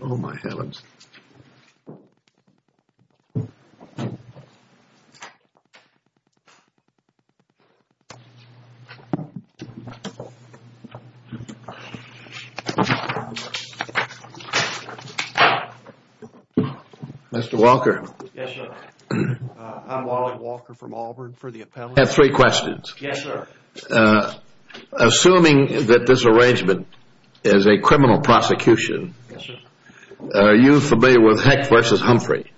Oh my heavens. Mr. Walker. Yes sir. I'm Wally Walker from Auburn for the appellate. I have three questions. Yes sir. Assuming that this arrangement is a criminal prosecution. Yes sir. Are you familiar with Heck v. Humphrey?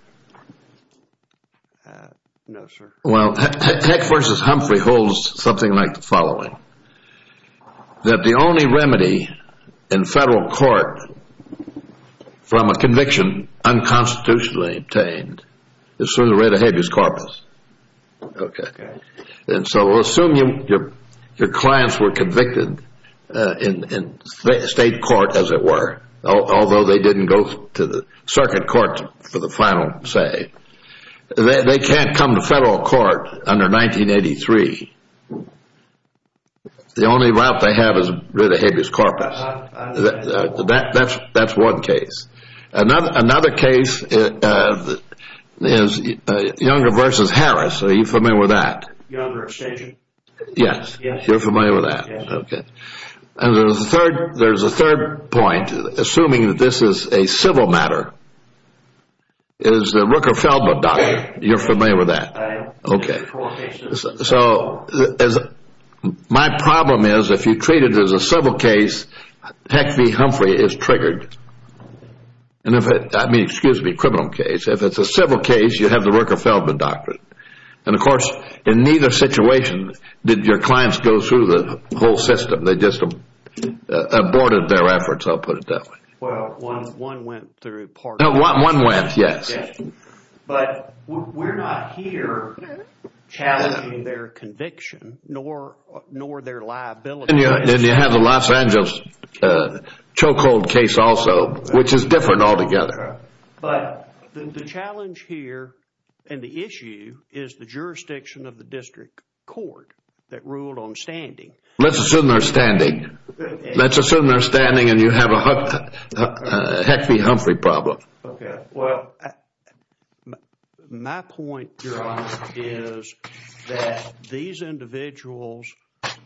No sir. Well, Heck v. Humphrey holds something like the following. That the only remedy in federal court from a conviction unconstitutionally obtained is through the writ of habeas corpus. Okay. And so assume your clients were convicted in state court as it were. Although they didn't go to the circuit court for the final say. They can't come to federal court under 1983. The only route they have is the writ of habeas corpus. That's one case. Another case is Younger v. Harris. Are you familiar with that? Younger point, assuming this is a civil matter, is the Rooker-Feldman doctrine. You're familiar with that? I am. Okay. So my problem is if you treat it as a civil case, Heck v. Humphrey is triggered. And if it, I mean, excuse me, criminal case. If it's a civil case, you have the Rooker-Feldman doctrine. And of course, in neither situation did your clients go through the whole system. They just aborted their efforts, I'll put it that way. Well, one went through part of it. No, one went, yes. But we're not here challenging their conviction nor their liability. And you have the Los Angeles chokehold case also, which is different altogether. But the challenge here and the issue is the jurisdiction of the district court that ruled on standing. Let's assume they're standing. Let's assume they're standing and you have a Heck v. Humphrey problem. Okay. Well, my point, Your Honor, is that these individuals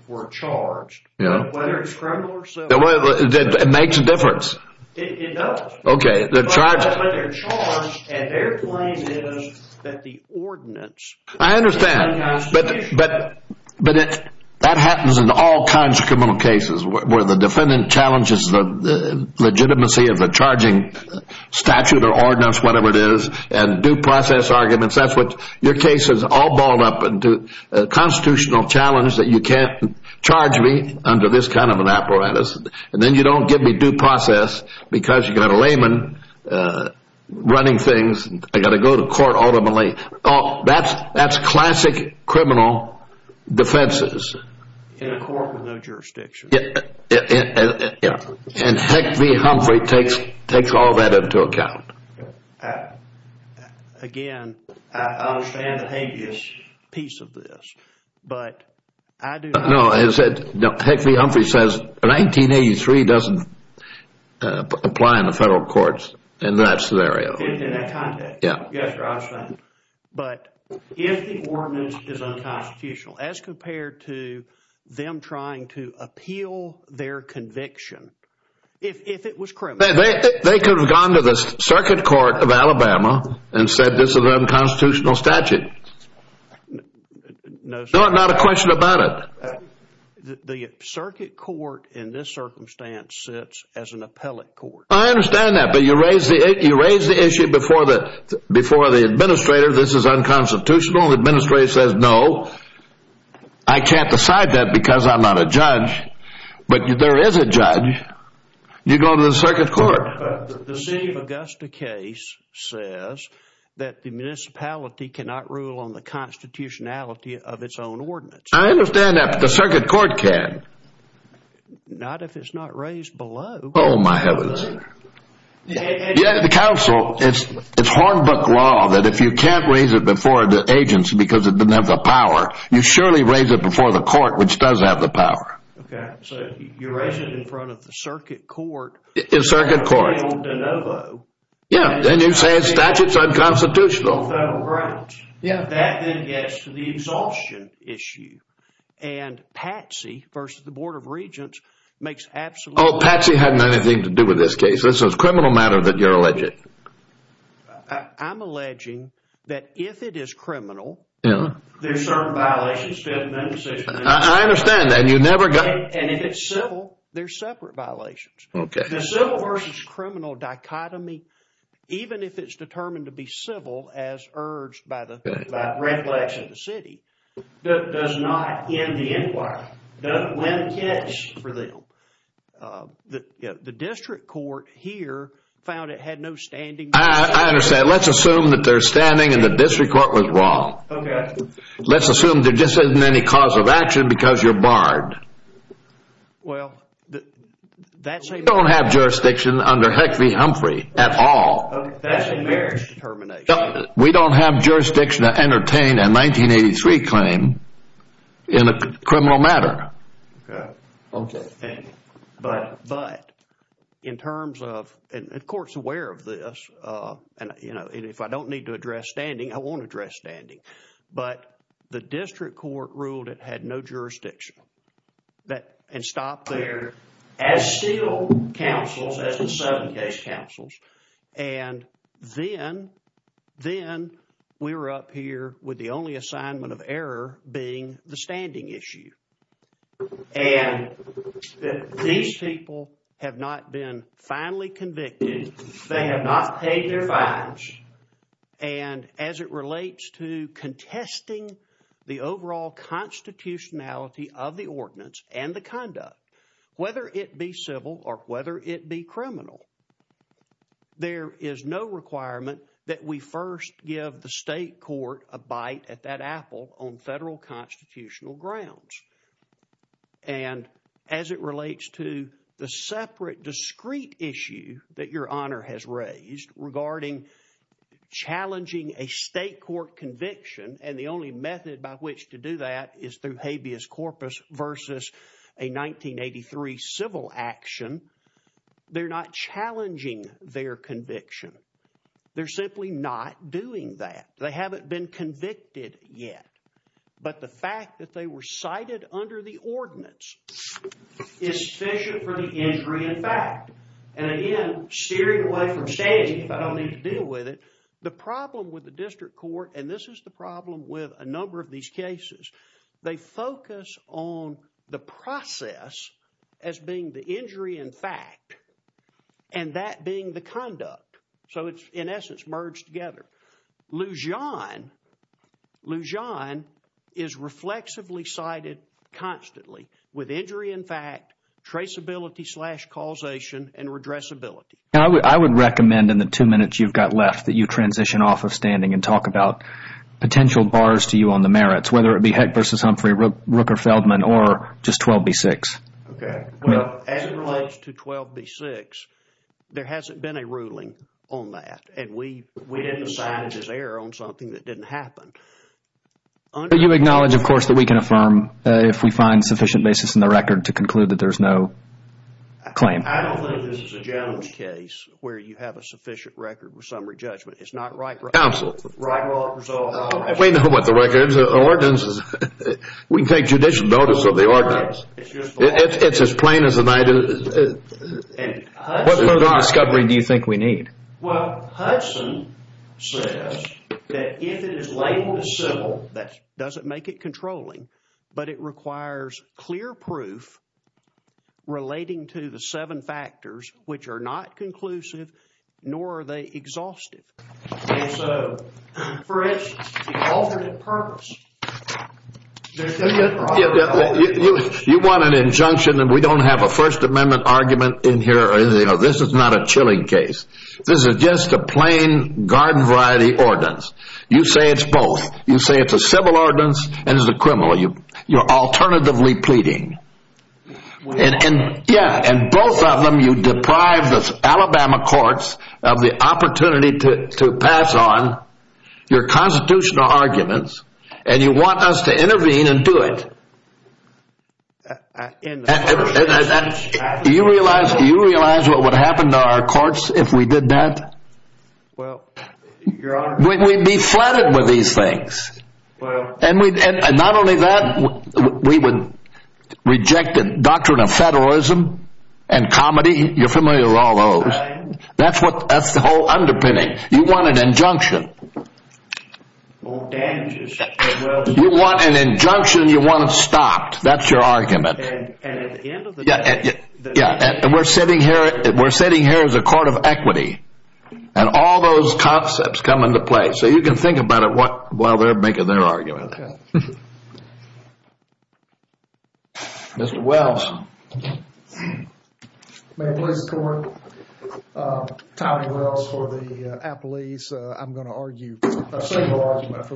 were charged, whether it's criminal or civil. It makes a difference. It does. Okay. But they're charged and their claim is that the ordinance... I understand. But that happens in all kinds of criminal cases where the defendant challenges the legitimacy of the charging statute or ordinance, whatever it is, and due process arguments. Your case is all balled up into a constitutional challenge that you can't charge me under this kind of an apparatus. And then you don't give me due process because you've got a layman running things. I've got to go to court ultimately. That's classic criminal defenses. In a court with no jurisdiction. Yeah. And Heck v. Humphrey takes all that into account. Again, I understand the habeas piece of this, but I do not... No, Heck v. Humphrey is not in the federal courts in that scenario. In that context? Yeah. Yes, Your Honor. But if the ordinance is unconstitutional, as compared to them trying to appeal their conviction, if it was criminal... They could have gone to the Circuit Court of Alabama and said this is an unconstitutional statute. No, sir. Not a question about it. The Circuit Court in this circumstance sits as an appellate court. I understand that, but you raised the issue before the administrator. This is unconstitutional. The administrator says, no, I can't decide that because I'm not a judge. But there is a judge. You go to the Circuit Court. The Steve Augusta case says that the municipality cannot rule on the constitutionality of its own ordinance. I understand that, but the Circuit Court can. Not if it's not raised below. Oh, my heavens. Yeah, the council, it's hornbook law that if you can't raise it before the agency because it doesn't have the power, you surely raise it before the court, which does have the power. Okay, so you raise it in front of the Circuit Court. The Circuit Court. Yeah, then you say the statute is unconstitutional. Yeah, that then gets to the exhaustion issue. And Patsy versus the Board of Regents makes absolute... Oh, Patsy had nothing to do with this case. This is a criminal matter that you're alleging. I'm alleging that if it is criminal, there's certain violations. I understand that. And if it's civil, there's separate violations. Okay. The civil versus criminal dichotomy, even if it's determined to be civil as urged by the recollection of the city, does not end the inquiry. Doesn't win the case for them. The district court here found it had no standing. I understand. Let's assume that they're standing and the district court was wrong. Okay. Let's assume there just isn't any cause of action because you're barred. Well, that's... We don't have jurisdiction under Huckabee Humphrey at all. We don't have jurisdiction to entertain a 1983 claim in a criminal matter. Okay. But in terms of, and the court's aware of this, and if I don't need to address standing, I won't address standing. But the district court ruled it had no jurisdiction and stopped there as still counsels, as the seven case counsels. And then we were up here with the only assignment of error being the standing issue. And these people have not been finally convicted. They have not paid their fines. And as it relates to contesting the overall constitutionality of the ordinance and the conduct, whether it be civil or whether it be criminal, there is no requirement that we first give the state court a bite at that apple on federal constitutional grounds. And as it relates to the separate discrete issue that your honor has raised regarding challenging a state court conviction, and the only method by which to do that is through habeas corpus versus a 1983 civil action, they're not challenging their conviction. They're simply not doing that. They haven't been convicted yet. But the fact that they were cited under the ordinance is sufficient for the injury in fact. And again, steering away from standing if I don't need to deal with it. The problem with the district court, and this is the problem with a number of these cases, they focus on the process as being the injury in fact, and that being the conduct. So it's in essence merged together. Lujan is reflexively cited constantly with injury in fact, traceability slash causation, and redressability. I would recommend in the two minutes you've got left that you transition off of standing and talk about potential bars to you on the merits, whether it be Heck versus Humphrey, Rooker-Feldman, or just 12B6. Okay, well as it relates to 12B6, there hasn't been a ruling on that, and we didn't sign it as error on something that didn't happen. You acknowledge of course that we can affirm if we find sufficient basis in the record to conclude that there's no claim. I don't think this is a general case where you have a sufficient record with summary judgment. It's not right. Absolutely. We know what the records, the ordinances, we can take judicial notice of the ordinance. It's as plain as the night. What further discovery do you think we need? Well, Hudson says that if it is labeled as civil, that doesn't make it controlling, but it requires clear proof relating to the seven factors which are not conclusive, nor are they exhaustive. You want an injunction and we don't have a First Amendment argument in here. This is not a chilling case. This is just a plain garden variety ordinance. You say it's both. You say it's a civil ordinance and it's a criminal. You're alternatively pleading. Yeah, and both of them you deprive the Alabama courts of the opportunity to pass on your constitutional arguments and you want us to intervene and do it. Do you realize what would happen to our courts if we did that? Well, we'd be flooded with these things. And not only that, we would reject the doctrine of federalism and comedy. You're familiar with all those. That's the whole underpinning. You want an injunction. You want an injunction, you want it stopped. That's your argument. And at the end of the day, we're sitting here as a court of equity and all those concepts come into play. So you can think about it while they're making their argument. Mr. Wells. Mayor, Police Department. Tommy Wells for the Appalese. I'm going to argue a civil ordinance.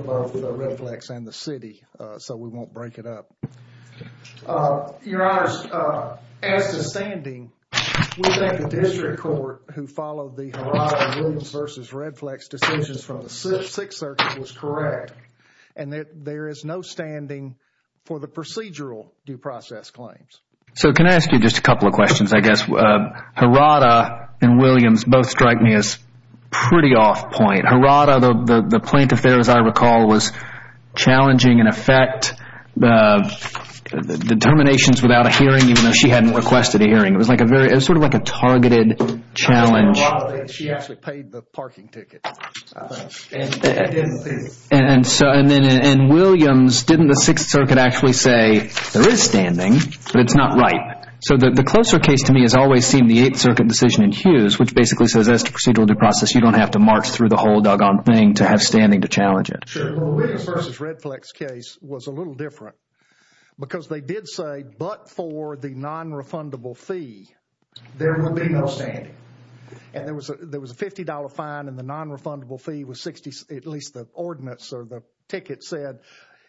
Your Honor, as to standing, the district court who followed the Hirata and Williams versus Redflex decisions from the Sixth Circuit was correct. And that there is no standing for the procedural due process claims. So can I ask you just a couple of questions, I guess. Hirata and Williams both strike me as pretty off point. Hirata, the plaintiff there as I recall, was challenging in effect the determinations without a hearing even though she hadn't requested a hearing. It was sort of like a targeted challenge. And Williams, didn't the Sixth Circuit actually say there is standing, but it's not right. So the closer case to me has always seemed the Eighth Circuit decision in Hughes, which basically says as to procedural due process, you don't have to march through the whole doggone thing to have standing to challenge it. Williams versus Redflex case was a little different because they did say, but for the non-refundable fee, there will be no standing. And there was a $50 fine and the non-refundable fee was 60, at least the ordinance or the ticket said,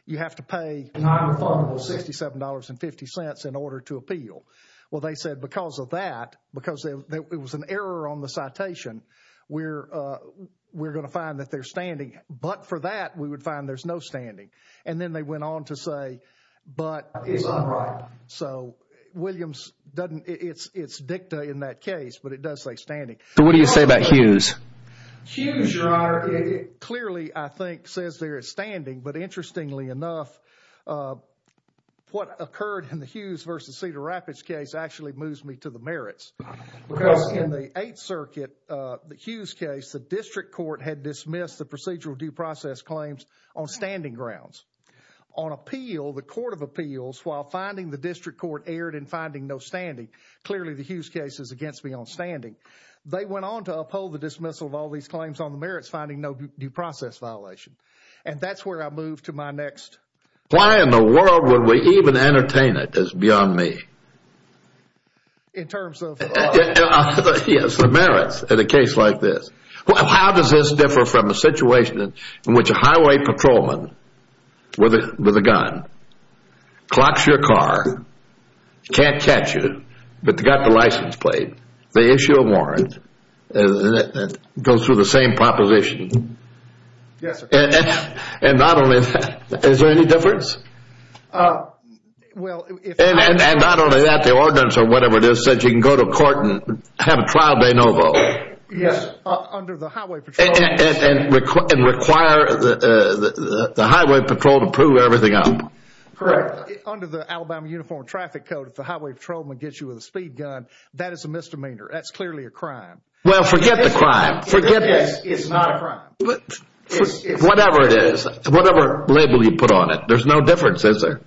you have to pay non-refundable $67.50 in order to appeal. Well, they said because of that, because it was an error on the citation, we're going to find that they're standing. But for that, we would find there's no standing. And then they went on to say, but it's not right. So Williams, it's dicta in that case, but it does say standing. So what do you say about Hughes? Hughes, Your Honor, clearly I think says there is standing, but interestingly enough, what occurred in the Hughes versus Cedar Rapids case actually moves me to the merits. Because in the Eighth Circuit, the Hughes case, the district court had dismissed the procedural due process claims on standing grounds. On appeal, the court of appeals, while finding the district court erred in finding no standing, clearly the Hughes case is against me on standing. They went on to uphold the dismissal of all these claims on the merits, finding no due process violation. And that's where I move to my next. Why in the world would we even entertain it as beyond me? In terms of... Yes, the merits in a case like this. How does this differ from a situation in which a highway patrolman with a gun clocks your car, can't catch you, but they got the license plate, they issue a warrant, and it goes through the same proposition? Yes, sir. And not only that, is there any difference? Well, if... And not only that, the ordinance or whatever it is, says you can go to court and have a trial de novo. Yes, under the highway patrol... And require the highway patrol to prove everything out. Correct. Under the Alabama Uniform Traffic Code, if the highway patrolman gets you with a speed gun, that is a misdemeanor. That's clearly a crime. Well, forget the crime. Forget this. It's not a crime. Whatever it is, whatever label you put on it, there's no difference, is there?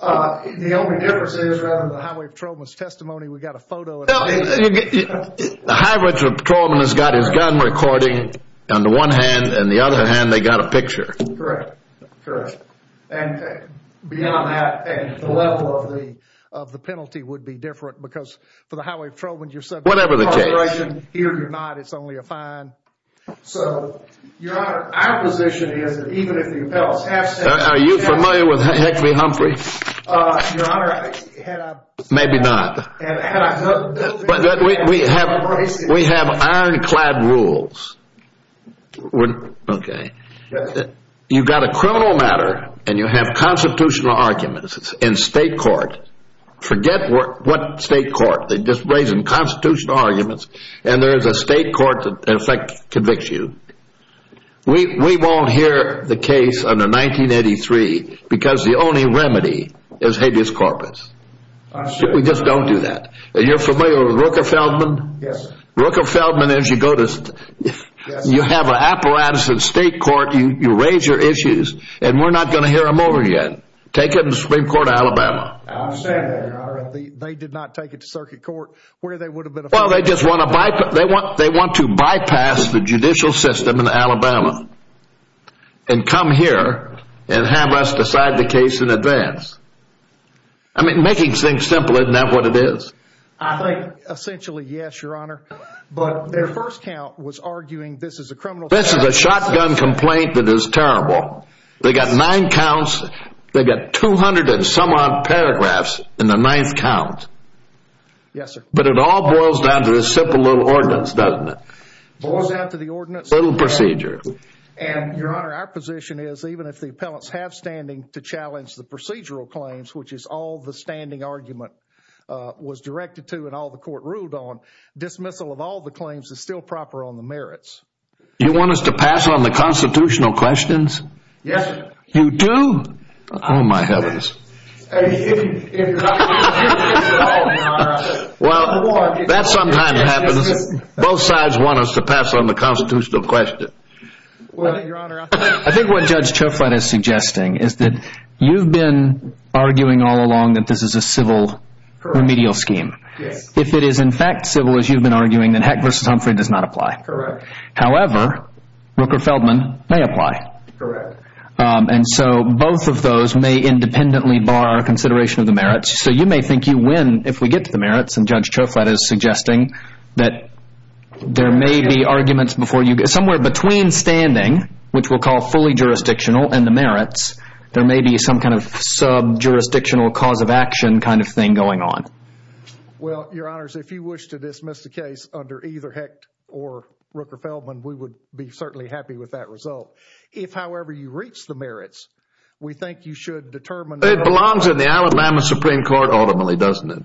The only difference is, rather than the highway patrolman's testimony, we got a photo... The highway patrolman has got his gun recording on the one hand, and the other hand, they got a picture. Correct. Correct. And beyond that, the level of the penalty would be different, because for the highway patrolman, you're subject to incarceration. Whatever the case. Here, you're not. It's only a fine. So, Your Honor, our position is that even if the appellants have said... Are you familiar with Hickley-Humphrey? Your Honor, had I... Maybe not. We have ironclad rules. Okay. You've got a criminal matter, and you have constitutional arguments in state court. Forget what state court. They just raise them constitutional arguments, and there is a state court that, in effect, convicts you. We won't hear the case under 1983, because the only remedy is habeas corpus. We just don't do that. You're familiar with Rooker-Feldman? Yes. Rooker-Feldman, as you go to... You have an apparatus in state court, you raise your issues, and we're not going to hear them over again. Take it in the Supreme Court of Alabama. I'm saying that, Your Honor. They did not take it to circuit court, where they would have been... They just want to bypass the judicial system in Alabama, and come here, and have us decide the case in advance. I mean, making things simple, isn't that what it is? I think, essentially, yes, Your Honor. But their first count was arguing this is a criminal... This is a shotgun complaint that is terrible. They got nine counts. They got 200 and some odd paragraphs in the ninth count. Yes, sir. But it all boils down to this simple little ordinance, doesn't it? It boils down to the ordinance. Little procedure. And, Your Honor, our position is, even if the appellants have standing to challenge the procedural claims, which is all the standing argument was directed to, and all the court ruled on, dismissal of all the claims is still proper on the merits. You want us to pass on the constitutional questions? Yes, sir. You do? Oh, my heavens. If you're not going to do this at all, Your Honor, I'm going to... Well, that sometimes happens. Both sides want us to pass on the constitutional question. Well, Your Honor, I think what Judge Choflatte is suggesting is that you've been arguing all along that this is a civil remedial scheme. If it is, in fact, civil, as you've been arguing, then Heck v. Humphrey does not apply. Correct. However, Rooker-Feldman may apply. Correct. And so both of those may independently bar consideration of the merits. So you may think you win if we get to the merits, and Judge Choflatte is suggesting that there may be arguments before you... Somewhere between standing, which we'll call fully jurisdictional, and the merits, there may be some kind of sub-jurisdictional cause of action kind of thing going on. Well, Your Honors, if you wish to dismiss the case under either Heck or Rooker-Feldman, we would be certainly happy with that result. If, however, you reach the merits, we think you should determine... It belongs in the Alabama Supreme Court, ultimately, doesn't it?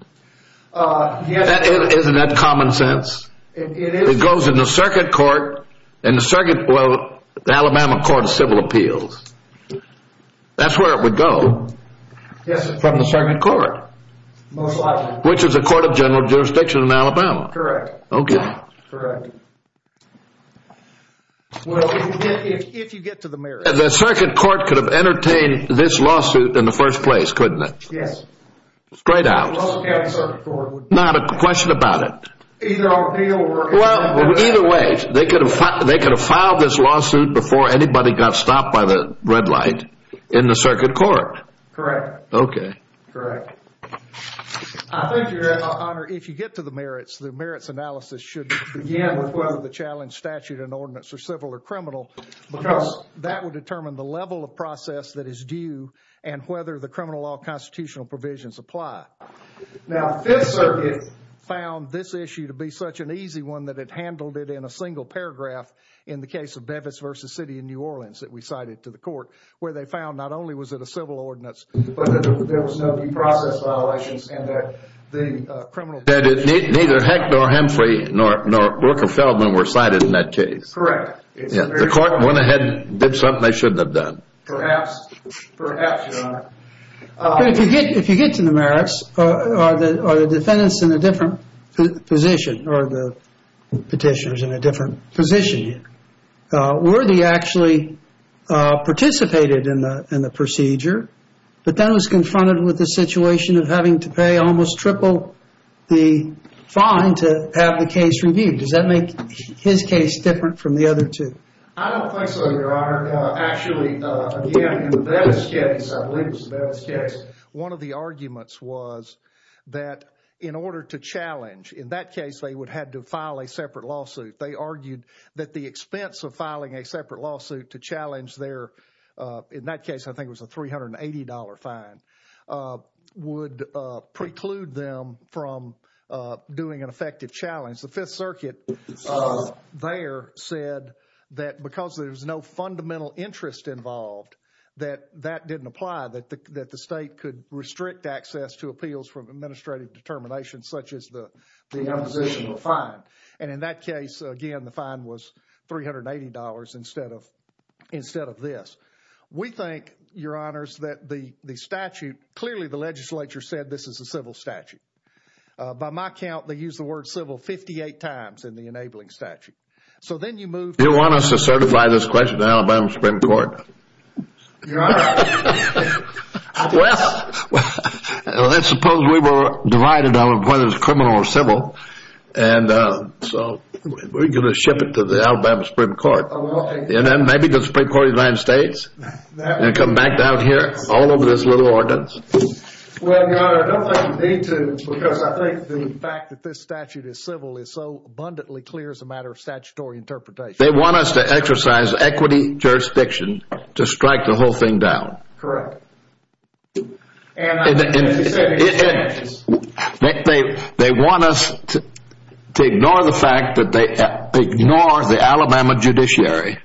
Isn't that common sense? It goes in the circuit court, in the circuit... Well, the Alabama Court of Civil Appeals. That's where it would go. Yes, from the circuit court. Most likely. Which is a court of general jurisdiction in Alabama. Correct. Okay. Correct. Well, if you get to the merits... The circuit court could have entertained this lawsuit in the first place, couldn't it? Yes. Straight out. It would also count in the circuit court. Not a question about it. Either on appeal or... Well, either way, they could have filed this lawsuit before anybody got stopped by the red light in the circuit court. Correct. Okay. Correct. I think, Your Honor, if you get to the merits, the merits analysis should begin with the challenge statute and ordinance are civil or criminal because that would determine the level of process that is due and whether the criminal law constitutional provisions apply. Now, Fifth Circuit found this issue to be such an easy one that it handled it in a single paragraph in the case of Bevis v. City in New Orleans that we cited to the court, where they found not only was it a civil ordinance, but that there was no due process violations and that the criminal... Neither Hecht nor Hemphrey nor Rooker-Feldman were cited in that case. Correct. The court went ahead and did something they shouldn't have done. Perhaps. Perhaps, Your Honor. If you get to the merits, are the defendants in a different position or the petitioners in a different position here? Worthy actually participated in the procedure, but then was confronted with the situation of having to pay almost triple the fine to have the case reviewed. Does that make his case different from the other two? I don't think so, Your Honor. Actually, again, in Bevis case, I believe it was Bevis case, one of the arguments was that in order to challenge, in that case, they would have to file a separate lawsuit. They argued that the expense of filing a separate lawsuit to challenge their, in that case, I think it was a $380 fine, would preclude them from doing an effective challenge. The Fifth Circuit there said that because there was no fundamental interest involved, that that didn't apply, that the state could restrict access to appeals from administrative determination, such as the oppositional fine. And in that case, again, the fine was $380 instead of this. We think, Your Honors, that the statute, clearly the legislature said this is a civil statute. By my count, they used the word civil 58 times in the enabling statute. So then you move to- You want us to certify this question to Alabama Supreme Court? Your Honor. Well, let's suppose we were divided on whether it's criminal or civil, and so we're going to ship it to the Alabama Supreme Court. And then maybe the Supreme Court of the United States, and come back down here all over this little ordinance. Well, Your Honor, I don't think you need to because I think the fact that this statute is civil is so abundantly clear as a matter of statutory interpretation. They want us to exercise equity jurisdiction to strike the whole thing down. Correct. And they want us to ignore the fact that they ignore the Alabama judiciary.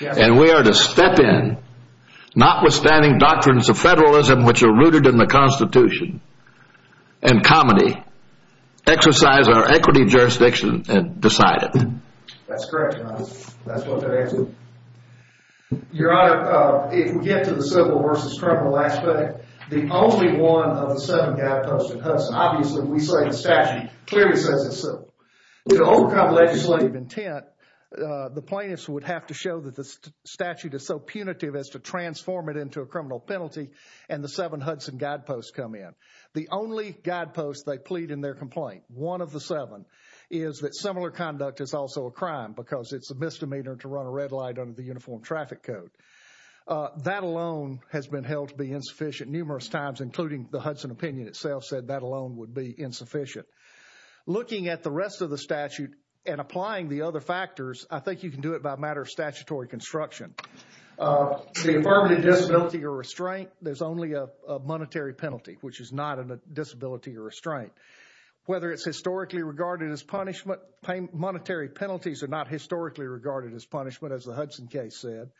And we are to step in, notwithstanding doctrines of federalism, which are rooted in the Constitution, and comedy, exercise our equity jurisdiction and decide it. That's correct, Your Honor. That's what they're asking. Your Honor, if we get to the civil, versus criminal aspect, the only one of the seven guideposts in Hudson, obviously, we say the statute clearly says it's civil. To overcome legislative intent, the plaintiffs would have to show that the statute is so punitive as to transform it into a criminal penalty, and the seven Hudson guideposts come in. The only guideposts they plead in their complaint, one of the seven, is that similar conduct is also a crime because it's a misdemeanor to run a red light under the Uniform Traffic Code. That alone has been held to be insufficient numerous times, including the Hudson opinion itself said that alone would be insufficient. Looking at the rest of the statute and applying the other factors, I think you can do it by a matter of statutory construction. The affirmative disability or restraint, there's only a monetary penalty, which is not a disability or restraint. Whether it's historically regarded as punishment, monetary penalties are not historically regarded as punishment, as the Hudson case said.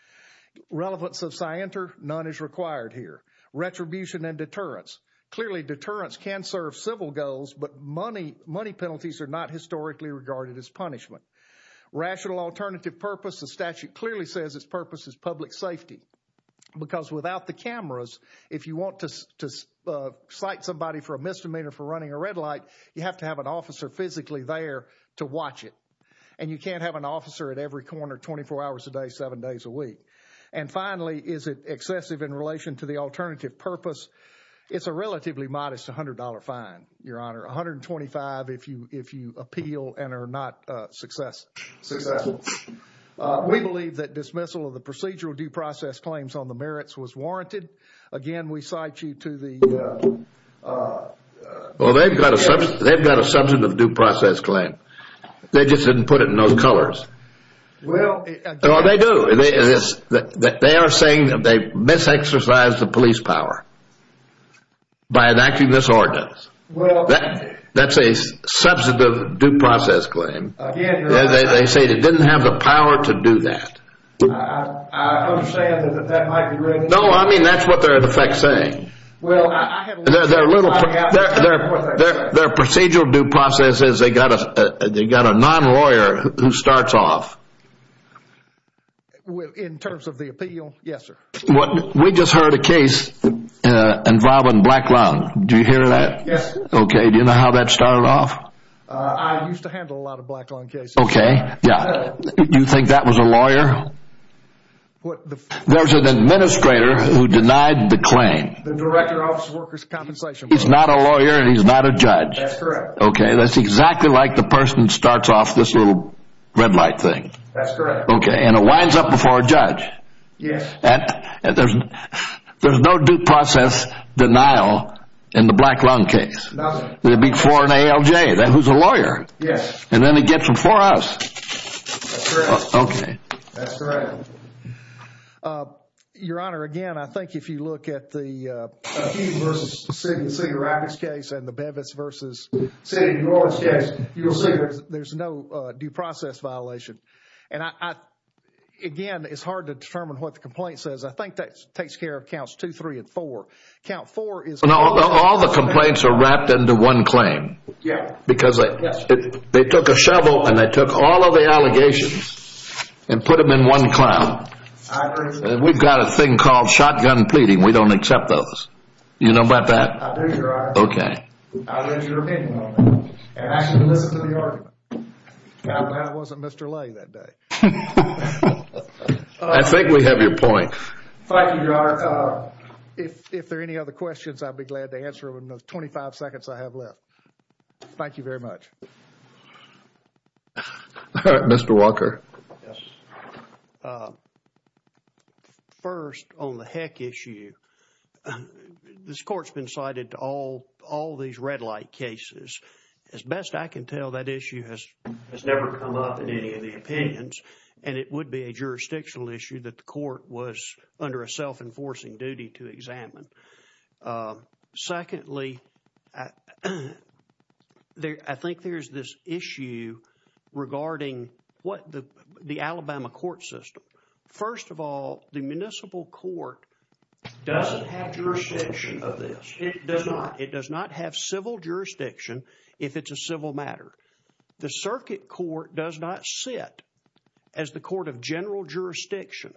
Relevance of scienter, none is required here. Retribution and deterrence, clearly deterrence can serve civil goals, but money penalties are not historically regarded as punishment. Rational alternative purpose, the statute clearly says its purpose is public safety, because without the cameras, if you want to cite somebody for a misdemeanor for running a red light, you have to have an officer physically there to watch it. You can't have an officer at every corner 24 hours a day, seven days a week. Finally, is it excessive in relation to the alternative purpose? It's a relatively modest $100 fine, Your Honor. $125 if you appeal and are not successful. We believe that dismissal of the procedural due process claims on the merits was warranted. Again, we cite you to the- Well, they've got a substantive due process claim. They just didn't put it in those colors. They are saying that they mis-exercised the police power by enacting this ordinance. That's a substantive due process claim. They say they didn't have the power to do that. I understand that that might be- No, I mean, that's what they're in effect saying. Well, I have a little- They're a little- Their procedural due process says they got a non-lawyer who starts off. In terms of the appeal, yes, sir. We just heard a case involving Black Lawn. Do you hear that? Yes, sir. Okay. Do you know how that started off? I used to handle a lot of Black Lawn cases. Okay. Yeah. Do you think that was a lawyer? There's an administrator who denied the claim. The director officer's compensation. He's not a lawyer and he's not a judge. That's correct. Okay. That's exactly like the person starts off this little red light thing. That's correct. Okay. And it winds up before a judge. Yes. There's no due process denial in the Black Lawn case. Nothing. It'd be for an ALJ who's a lawyer. Yes. And then it gets them for us. That's correct. Okay. That's correct. Okay. Your Honor, again, I think if you look at the Hughes v. Sigurado's case and the Bevis v. Sigurado's case, you'll see there's no due process violation. And again, it's hard to determine what the complaint says. I think that takes care of counts two, three, and four. Count four is- All the complaints are wrapped into one claim. Yeah. Because they took a shovel and they took all of the allegations and put them in one claim. We've got a thing called shotgun pleading. We don't accept those. You know about that? I do, Your Honor. Okay. I'll read your opinion on that. And I can listen to the argument. That wasn't Mr. Lay that day. I think we have your point. Thank you, Your Honor. If there are any other questions, I'd be glad to answer them in those 25 seconds I have left. Thank you very much. All right, Mr. Walker. First, on the heck issue, this court's been cited to all these red light cases. As best I can tell, that issue has never come up in any of the opinions. And it would be a jurisdictional issue that the court was under a self-enforcing duty to examine. Secondly, I think there's this issue regarding the Alabama court system. First of all, the municipal court doesn't have jurisdiction of this. It does not. It does not have civil jurisdiction if it's a civil matter. The circuit court does not sit as the court of general jurisdiction.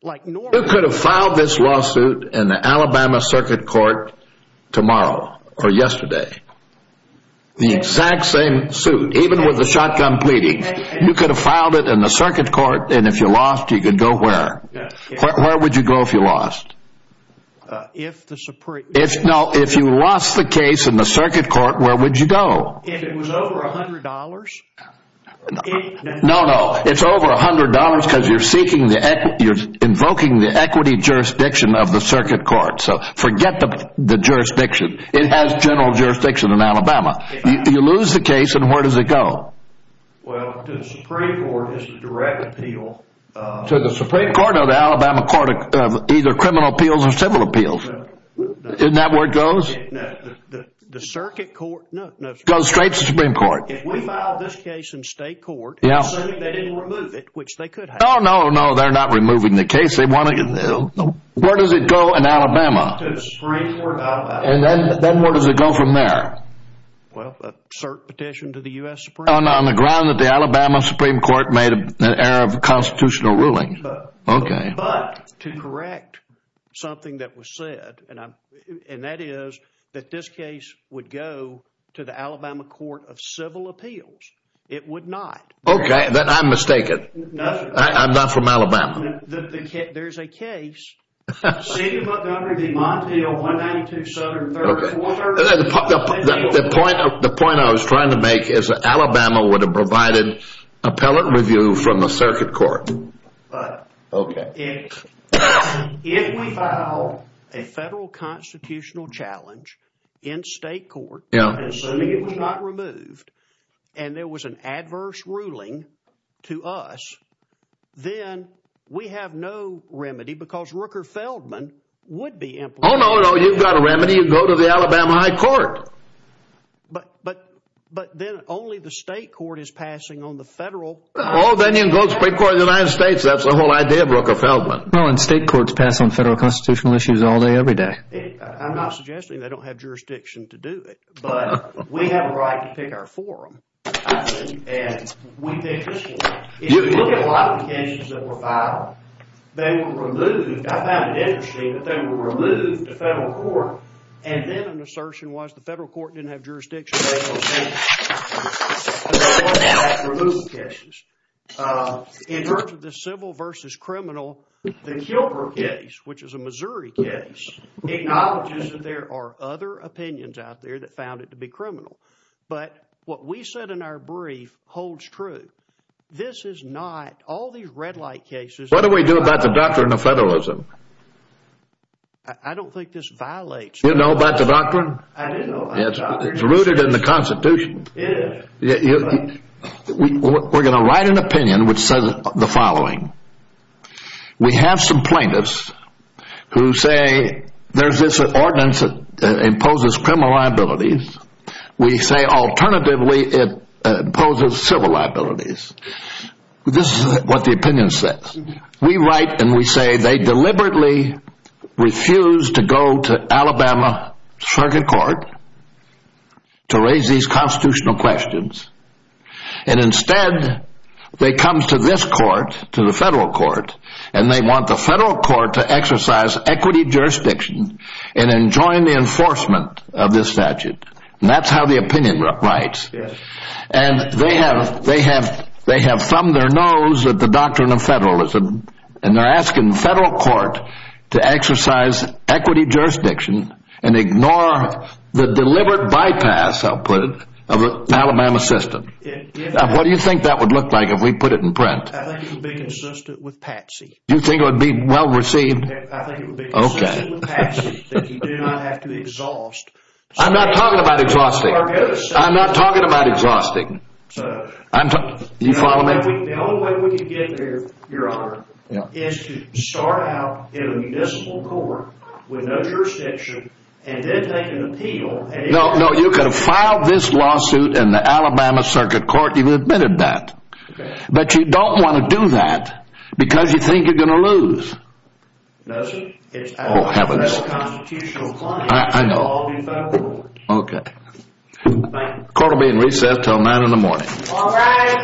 Who could have filed this lawsuit in the Alabama circuit court tomorrow or yesterday? The exact same suit, even with the shotgun pleading. You could have filed it in the circuit court. And if you lost, you could go where? Where would you go if you lost? If you lost the case in the circuit court, where would you go? If it was over $100? No, no. It's over $100 because you're seeking the equity. You're invoking the equity jurisdiction of the circuit court. So forget the jurisdiction. It has general jurisdiction in Alabama. You lose the case and where does it go? Well, to the Supreme Court is a direct appeal. To the Supreme Court or the Alabama court of either criminal appeals or civil appeals? Isn't that where it goes? The circuit court, no. Goes straight to the Supreme Court. If we filed this case in state court, assuming they didn't remove it, which they could have. No, no, no. They're not removing the case. Where does it go in Alabama? To the Supreme Court of Alabama. And then where does it go from there? Well, a cert petition to the U.S. Supreme Court. On the ground that the Alabama Supreme Court made an error of constitutional ruling. But to correct something that was said, and that is that this case would go to the Alabama court of civil appeals, it would not. OK, but I'm mistaken. I'm not from Alabama. There's a case. The point I was trying to make is that Alabama would have provided appellate review from the circuit court. OK. If we filed a federal constitutional challenge in state court. Assuming it was not removed and there was an adverse ruling to us, then we have no remedy because Rooker Feldman would be. Oh, no, no. You've got a remedy. You go to the Alabama High Court. But but but then only the state court is passing on the federal. Oh, then you go to the Supreme Court of the United States. That's the whole idea of Rooker Feldman. And state courts pass on federal constitutional issues all day, every day. I'm not suggesting they don't have jurisdiction to do it. But we have a right to pick our forum and we pick this one. If you look at a lot of the cases that were filed, they were removed. I found it interesting that they were removed to federal court. And then an assertion was the federal court didn't have jurisdiction. In terms of the civil versus criminal, the Gilbert case, which is a Missouri case, acknowledges that there are other opinions out there that found it to be criminal. But what we said in our brief holds true. This is not all these red light cases. What do we do about the doctrine of federalism? I don't think this violates. You know about the doctrine? It's rooted in the Constitution. We're going to write an opinion which says the following. We have some plaintiffs who say there's this ordinance that imposes criminal liabilities. We say alternatively it imposes civil liabilities. This is what the opinion says. We write and we say they deliberately refuse to go to Alabama circuit court to raise these constitutional questions. And instead, they come to this court, to the federal court, and they want the federal court to exercise equity jurisdiction and then join the enforcement of this statute. And that's how the opinion writes. And they have thumbed their nose at the doctrine of federalism. And they're asking the federal court to exercise equity jurisdiction and ignore the deliberate bypass, I'll put it, of an Alabama system. What do you think that would look like if we put it in print? I think it would be consistent with Patsy. You think it would be well received? I think it would be consistent with Patsy that you do not have to exhaust. I'm not talking about exhausting. I'm not talking about exhausting. You follow me? The only way we can get there, Your Honor, is to start out in a municipal court with no jurisdiction and then take an appeal. No, no. You could have filed this lawsuit in the Alabama circuit court. You've admitted that. But you don't want to do that because you think you're going to lose. No, sir. Oh, heavens. That's a constitutional claim. I know. Okay. Court will be in recess until nine in the morning. All rise.